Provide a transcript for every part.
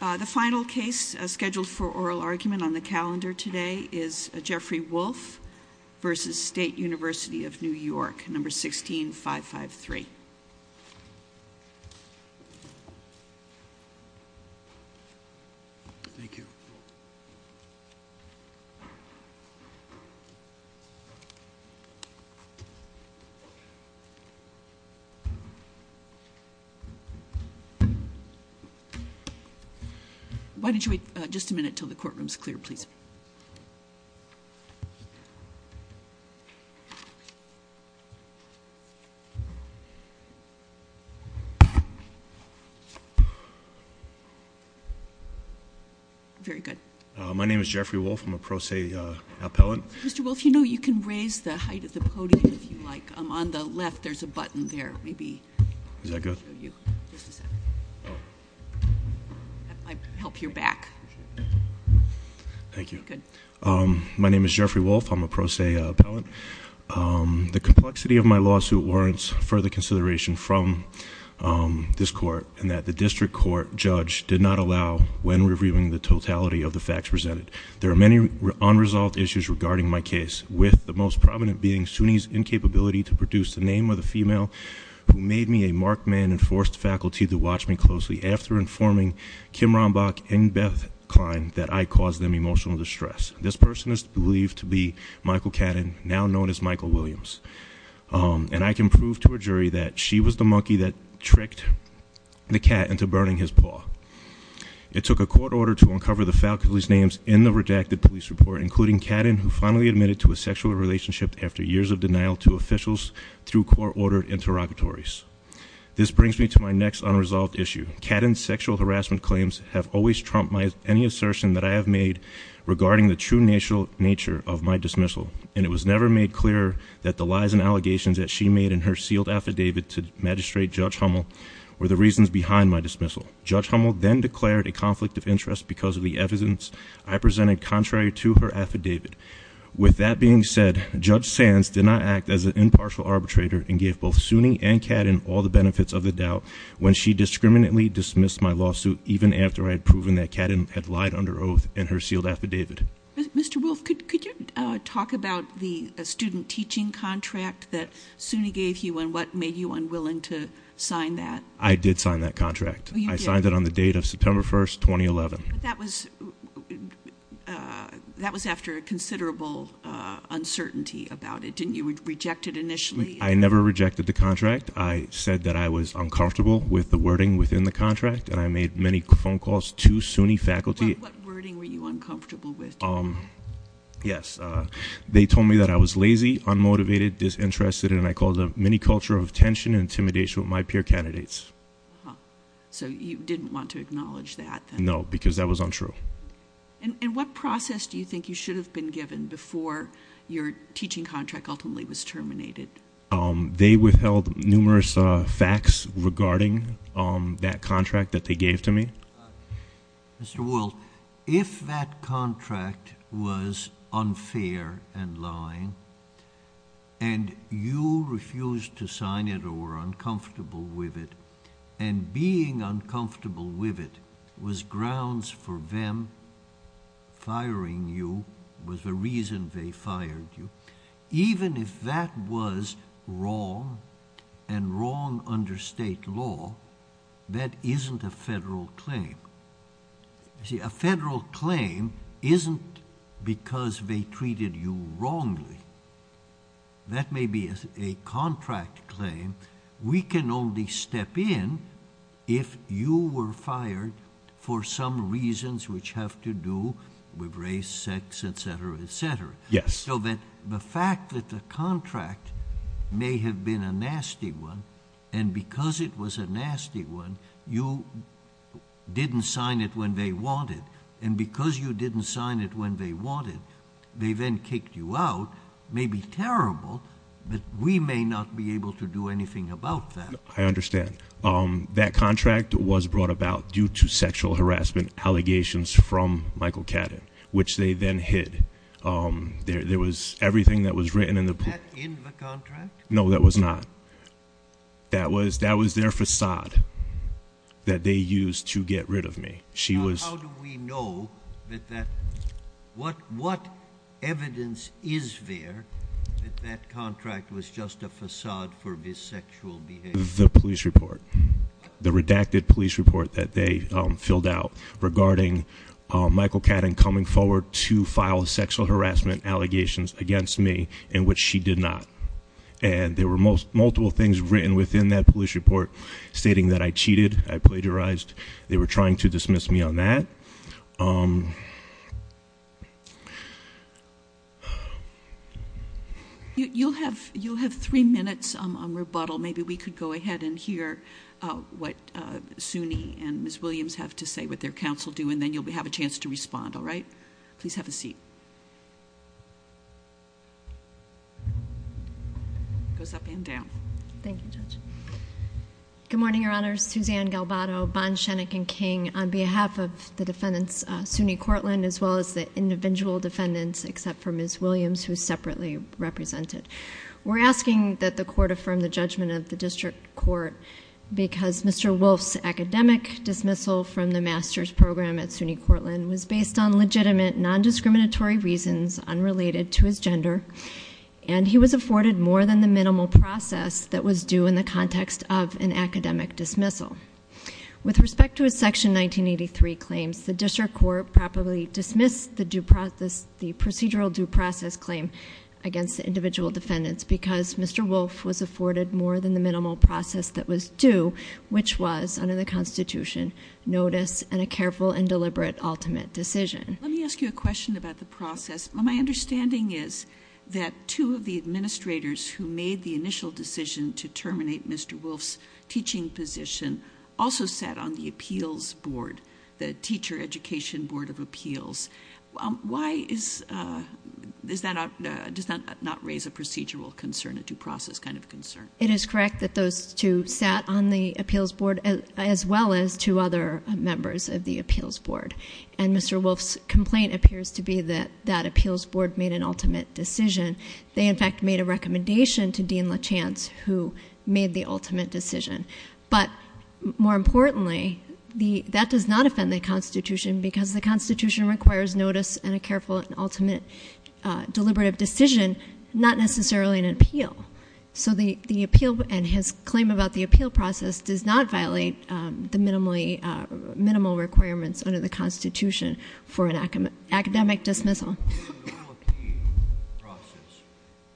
The final case scheduled for oral argument on the calendar today is Jeffrey Wolff v. State University of New York, No. 16553. Thank you. Why don't you wait just a minute until the courtroom is clear, please. Very good. My name is Jeffrey Wolff. I'm a pro se appellant. Mr. Wolff, you know you can raise the height of the podium if you like. On the left there's a button there. Is that good? I might help your back. Thank you. Good. My name is Jeffrey Wolff. I'm a pro se appellant. The complexity of my lawsuit warrants further consideration from this court, and that the district court judge did not allow when reviewing the totality of the facts presented. There are many unresolved issues regarding my case, with the most prominent being SUNY's incapability to produce the name of the female who made me a marked man and forced faculty to watch me closely after informing Kim Rombach and Beth Klein that I caused them emotional distress. This person is believed to be Michael Catton, now known as Michael Williams. And I can prove to a jury that she was the monkey that tricked the cat into burning his paw. It took a court order to uncover the faculty's names in the rejected police report, including Catton, who finally admitted to a sexual relationship after years of denial to officials through court-ordered interrogatories. This brings me to my next unresolved issue. Catton's sexual harassment claims have always trumped any assertion that I have made regarding the true nature of my dismissal. And it was never made clear that the lies and allegations that she made in her sealed affidavit to magistrate Judge Hummel were the reasons behind my dismissal. Judge Hummel then declared a conflict of interest because of the evidence I presented contrary to her affidavit. With that being said, Judge Sands did not act as an impartial arbitrator and gave both SUNY and Catton all the benefits of the doubt when she discriminately dismissed my lawsuit, even after I had proven that Catton had lied under oath in her sealed affidavit. Mr. Wolf, could you talk about the student teaching contract that SUNY gave you and what made you unwilling to sign that? I did sign that contract. You did? I signed it on the date of September 1st, 2011. But that was after a considerable uncertainty about it. Didn't you reject it initially? I never rejected the contract. I said that I was uncomfortable with the wording within the contract, and I made many phone calls to SUNY faculty. What wording were you uncomfortable with? Yes. They told me that I was lazy, unmotivated, disinterested, and I caused a mini culture of tension and intimidation with my peer candidates. So you didn't want to acknowledge that? No, because that was untrue. And what process do you think you should have been given before your teaching contract ultimately was terminated? They withheld numerous facts regarding that contract that they gave to me. Mr. Wolf, if that contract was unfair and lying, and you refused to sign it or were uncomfortable with it, and being uncomfortable with it was grounds for them firing you, was the reason they fired you, even if that was wrong and wrong under state law, that isn't a federal claim. You see, a federal claim isn't because they treated you wrongly. That may be a contract claim. We can only step in if you were fired for some reasons which have to do with race, sex, etc., etc. Yes. So that the fact that the contract may have been a nasty one, and because it was a nasty one, you didn't sign it when they wanted, and because you didn't sign it when they wanted, they then kicked you out may be terrible, but we may not be able to do anything about that. I understand. That contract was brought about due to sexual harassment allegations from Michael Cadden, which they then hid. There was everything that was written in the contract. Was that in the contract? No, that was not. That was their facade that they used to get rid of me. How do we know that that, what evidence is there that that contract was just a facade for his sexual behavior? The police report. The redacted police report that they filled out regarding Michael Cadden coming forward to file sexual harassment allegations against me, in which she did not. And there were multiple things written within that police report stating that I cheated, I plagiarized. They were trying to dismiss me on that. You'll have three minutes on rebuttal. Maybe we could go ahead and hear what SUNY and Ms. Williams have to say, what their counsel do, and then you'll have a chance to respond. All right? Please have a seat. It goes up and down. Thank you, Judge. Good morning, Your Honors. Suzanne Galvado, Bond, Shenick, and King. On behalf of the defendants, SUNY Courtland, as well as the individual defendants, except for Ms. Williams, who is separately represented. We're asking that the court affirm the judgment of the district court because Mr. Wolf's academic dismissal from the master's program at SUNY Courtland was based on legitimate, non-discriminatory reasons unrelated to his gender. And he was afforded more than the minimal process that was due in the context of an academic dismissal. With respect to his Section 1983 claims, the district court probably dismissed the procedural due process claim against the individual defendants because Mr. Wolf was afforded more than the minimal process that was due, which was, under the Constitution, notice and a careful and deliberate ultimate decision. Let me ask you a question about the process. My understanding is that two of the administrators who made the initial decision to terminate Mr. Wolf's teaching position also sat on the appeals board, the teacher education board of appeals. Why does that not raise a procedural concern, a due process kind of concern? It is correct that those two sat on the appeals board as well as two other members of the appeals board. And Mr. Wolf's complaint appears to be that that appeals board made an ultimate decision. They, in fact, made a recommendation to Dean Lachance, who made the ultimate decision. But more importantly, that does not offend the Constitution because the Constitution requires notice and a careful and ultimate deliberative decision, not necessarily an appeal. So the appeal and his claim about the appeal process does not violate the minimal requirements under the Constitution for an academic dismissal.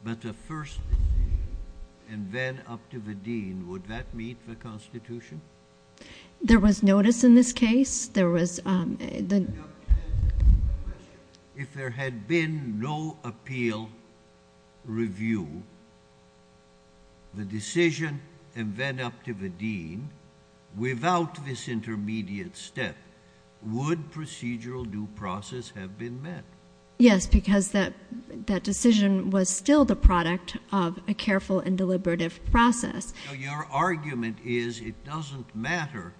But the first and then up to the dean, would that meet the Constitution? There was notice in this case. There was the. If there had been no appeal review, the decision and then up to the dean, without this intermediate step, would procedural due process have been met? Yes, because that that decision was still the product of a careful and deliberative process. Your argument is it doesn't matter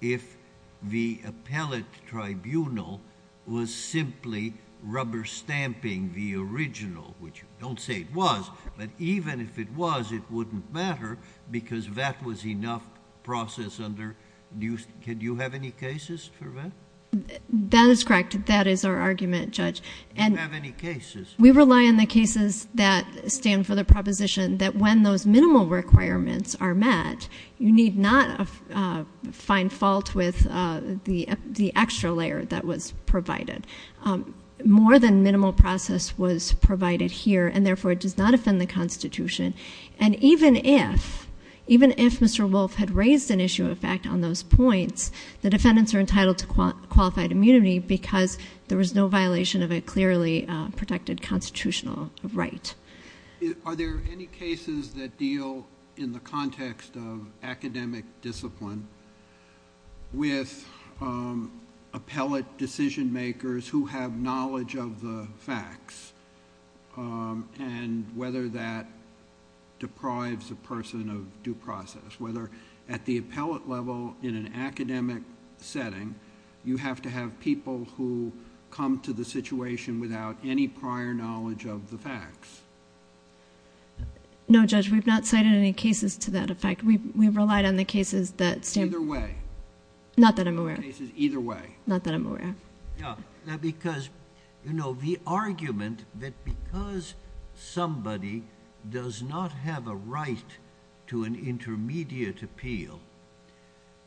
if the appellate tribunal was simply rubber stamping the original, which you don't say it was. But even if it was, it wouldn't matter because that was enough process under. Do you have any cases for that? That is correct. That is our argument, Judge. Do you have any cases? We rely on the cases that stand for the proposition that when those minimal requirements are met, you need not find fault with the extra layer that was provided. More than minimal process was provided here, and therefore it does not offend the Constitution. And even if Mr. Wolf had raised an issue of fact on those points, the defendants are entitled to qualified immunity because there was no violation of a clearly protected constitutional right. Are there any cases that deal in the context of academic discipline with appellate decision makers who have knowledge of the facts and whether that deprives a person of due process? Whether at the appellate level in an academic setting, you have to have people who come to the situation without any prior knowledge of the facts? No, Judge, we've not cited any cases to that effect. We've relied on the cases that stand... Either way. Not that I'm aware of. Either way. Not that I'm aware of. Yeah, because, you know, the argument that because somebody does not have a right to an intermediate appeal,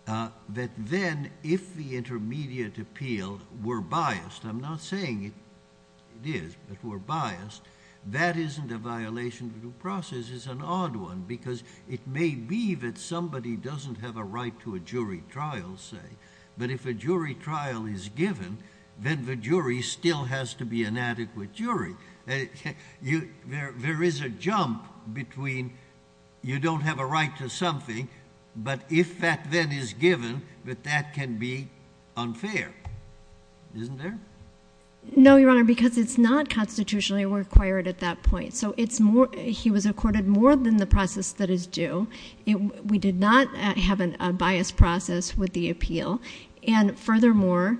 that then if the intermediate appeal were biased, I'm not saying it is, but were biased, that isn't a violation of due process. It's an odd one because it may be that somebody doesn't have a right to a jury trial, say, but if a jury trial is given, then the jury still has to be an adequate jury. There is a jump between you don't have a right to something, but if that then is given, that that can be unfair. Isn't there? No, Your Honor, because it's not constitutionally required at that point. So it's more... he was accorded more than the process that is due. We did not have a biased process with the appeal. And furthermore,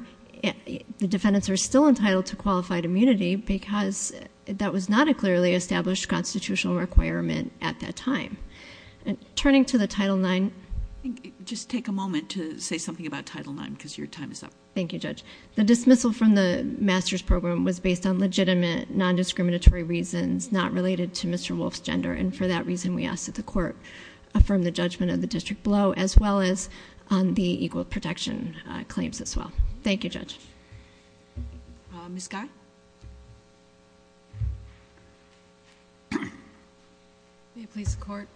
the defendants are still entitled to qualified immunity because that was not a clearly established constitutional requirement at that time. Turning to the Title IX... Just take a moment to say something about Title IX because your time is up. Thank you, Judge. The dismissal from the master's program was based on legitimate nondiscriminatory reasons not related to Mr. Wolfe's gender, and for that reason, we ask that the court affirm the judgment of the district below as well as the equal protection claims as well. Thank you, Judge. Ms. Guy? May it please the Court?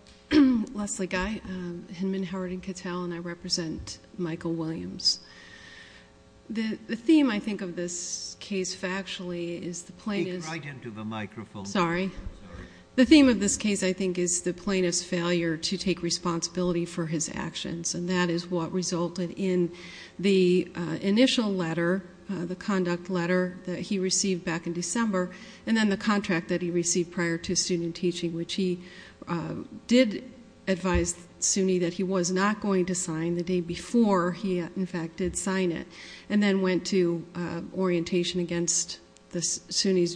Leslie Guy, Hinman, Howard, and Cattell, and I represent Michael Williams. The theme, I think, of this case factually is the plaintiff... Speak right into the microphone. Sorry. The theme of this case, I think, is the plaintiff's failure to take responsibility for his actions, and that is what resulted in the initial letter, the conduct letter that he received back in December, and then the contract that he received prior to student teaching, which he did advise SUNY that he was not going to sign the day before he, in fact, did sign it, and then went to orientation against SUNY's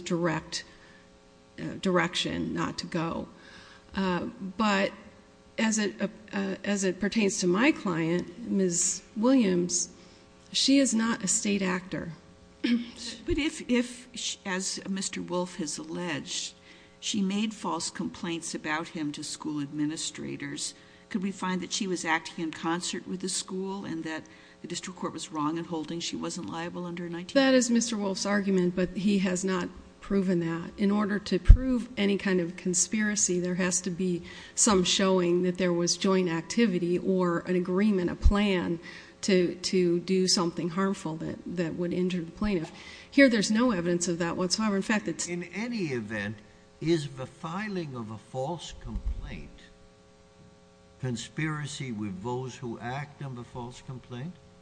direction not to go. But as it pertains to my client, Ms. Williams, she is not a state actor. But if, as Mr. Wolfe has alleged, she made false complaints about him to school administrators, could we find that she was acting in concert with the school and that the district court was wrong in holding she wasn't liable under... That is Mr. Wolfe's argument, but he has not proven that. In order to prove any kind of conspiracy, there has to be some showing that there was joint activity or an agreement, a plan to do something harmful that would injure the plaintiff. Here, there's no evidence of that whatsoever. In fact, it's...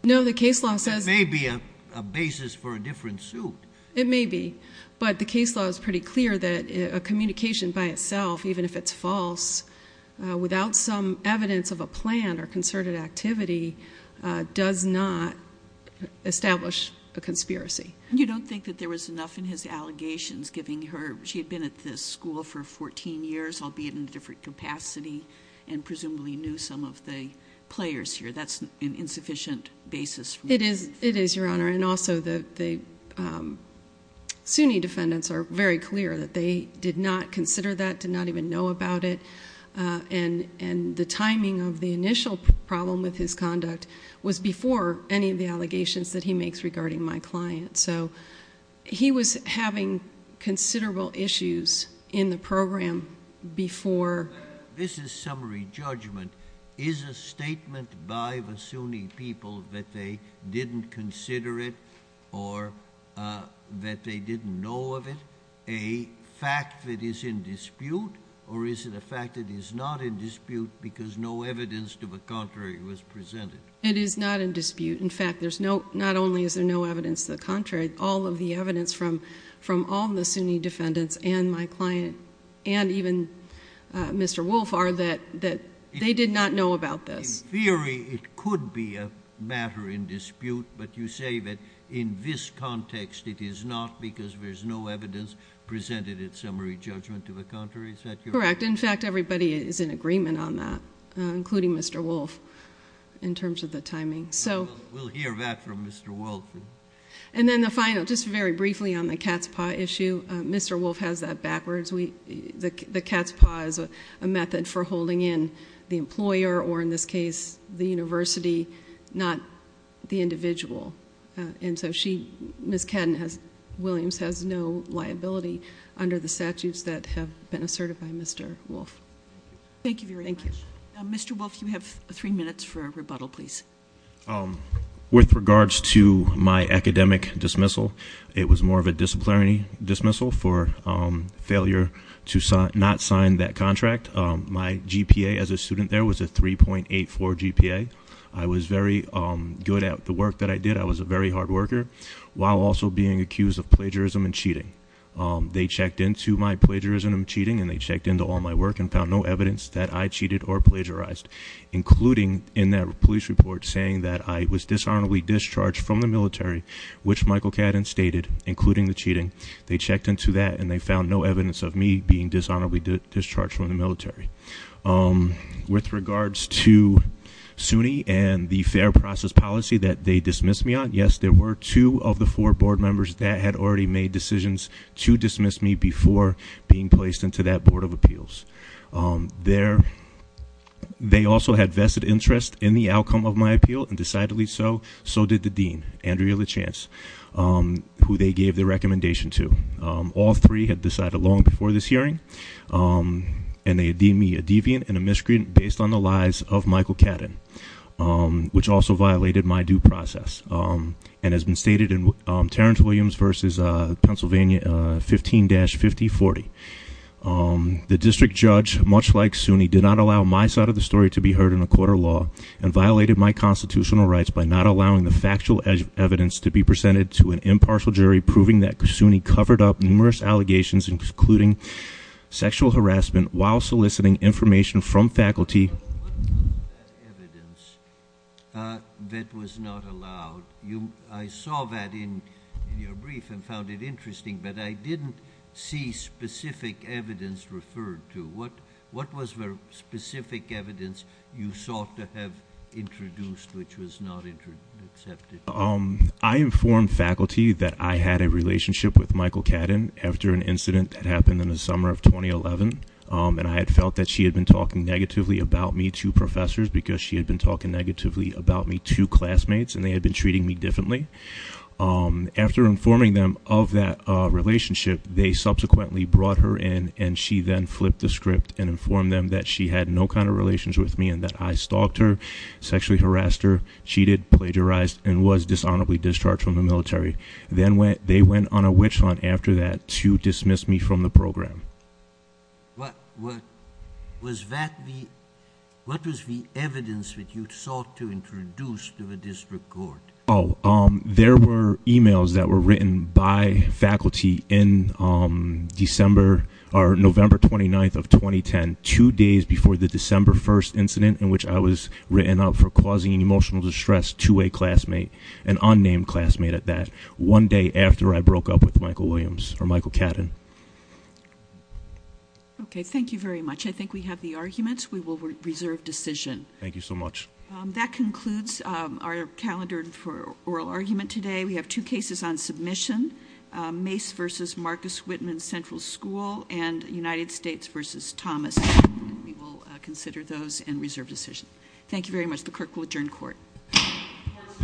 No, the case law says... It may be a basis for a different suit. It may be, but the case law is pretty clear that a communication by itself, even if it's false, without some evidence of a plan or concerted activity does not establish a conspiracy. You don't think that there was enough in his allegations giving her... She had been at this school for 14 years, albeit in a different capacity, and presumably knew some of the players here. That's an insufficient basis for... It is, Your Honor, and also the SUNY defendants are very clear that they did not consider that, did not even know about it, and the timing of the initial problem with his conduct was before any of the allegations that he makes regarding my client. So he was having considerable issues in the program before... This is summary judgment. Is a statement by the SUNY people that they didn't consider it or that they didn't know of it a fact that is in dispute, or is it a fact that is not in dispute because no evidence to the contrary was presented? It is not in dispute. In fact, there's no... Not only is there no evidence to the contrary, all of the evidence from all of the SUNY defendants and my client and even Mr. Wolf are that they did not know about this. In theory, it could be a matter in dispute, but you say that in this context, it is not because there's no evidence presented in summary judgment to the contrary. Is that your... Correct. In fact, everybody is in agreement on that, including Mr. Wolf, in terms of the timing. We'll hear that from Mr. Wolf. And then the final, just very briefly on the cat's paw issue, Mr. Wolf has that backwards. The cat's paw is a method for holding in the employer or, in this case, the university, not the individual. And so she, Ms. Cadden-Williams, has no liability under the statutes that have been asserted by Mr. Wolf. Thank you very much. Thank you. Mr. Wolf, you have three minutes for a rebuttal, please. With regards to my academic dismissal, it was more of a disciplinary dismissal for failure to not sign that contract. My GPA as a student there was a 3.84 GPA. I was very good at the work that I did. I was a very hard worker, while also being accused of plagiarism and cheating. They checked into my plagiarism and cheating, and they checked into all my work and found no evidence that I cheated or plagiarized, including in that police report saying that I was dishonorably discharged from the military, which Michael Cadden stated, including the cheating. They checked into that and they found no evidence of me being dishonorably discharged from the military. With regards to SUNY and the fair process policy that they dismissed me on, yes, there were two of the four board members that had already made decisions to dismiss me before being placed into that board of appeals. They also had vested interest in the outcome of my appeal, and decidedly so, so did the dean, Andrea Lachance, who they gave their recommendation to. All three had decided long before this hearing, and they deemed me a deviant and a miscreant based on the lies of Michael Cadden, which also violated my due process, and has been stated in Terrence Williams versus Pennsylvania 15-5040. The district judge, much like SUNY, did not allow my side of the story to be heard in a court of law, and violated my constitutional rights by not allowing the factual evidence to be presented to an impartial jury, proving that SUNY covered up numerous allegations, including sexual harassment, while soliciting information from faculty. What was that evidence that was not allowed? I saw that in your brief and found it interesting, but I didn't see specific evidence referred to. What was the specific evidence you sought to have introduced which was not accepted? I informed faculty that I had a relationship with Michael Cadden after an incident that happened in the summer of 2011, and I had felt that she had been talking negatively about me to professors, because she had been talking negatively about me to classmates, and they had been treating me differently. After informing them of that relationship, they subsequently brought her in, and she then flipped the script and informed them that she had no kind of relations with me, and that I stalked her, sexually harassed her, cheated, plagiarized, and was dishonorably discharged from the military. Then they went on a witch hunt after that to dismiss me from the program. What was the evidence that you sought to introduce to the district court? There were e-mails that were written by faculty in December or November 29th of 2010, two days before the December 1st incident in which I was written up for causing emotional distress to a classmate, an unnamed classmate at that, one day after I broke up with Michael Williams, or Michael Cadden. Okay, thank you very much. I think we have the arguments. We will reserve decision. Thank you so much. That concludes our calendar for oral argument today. We have two cases on submission, Mace v. Marcus Whitman Central School and United States v. Thomas. We will consider those and reserve decision. Thank you very much. The clerk will adjourn court. Court is adjourned.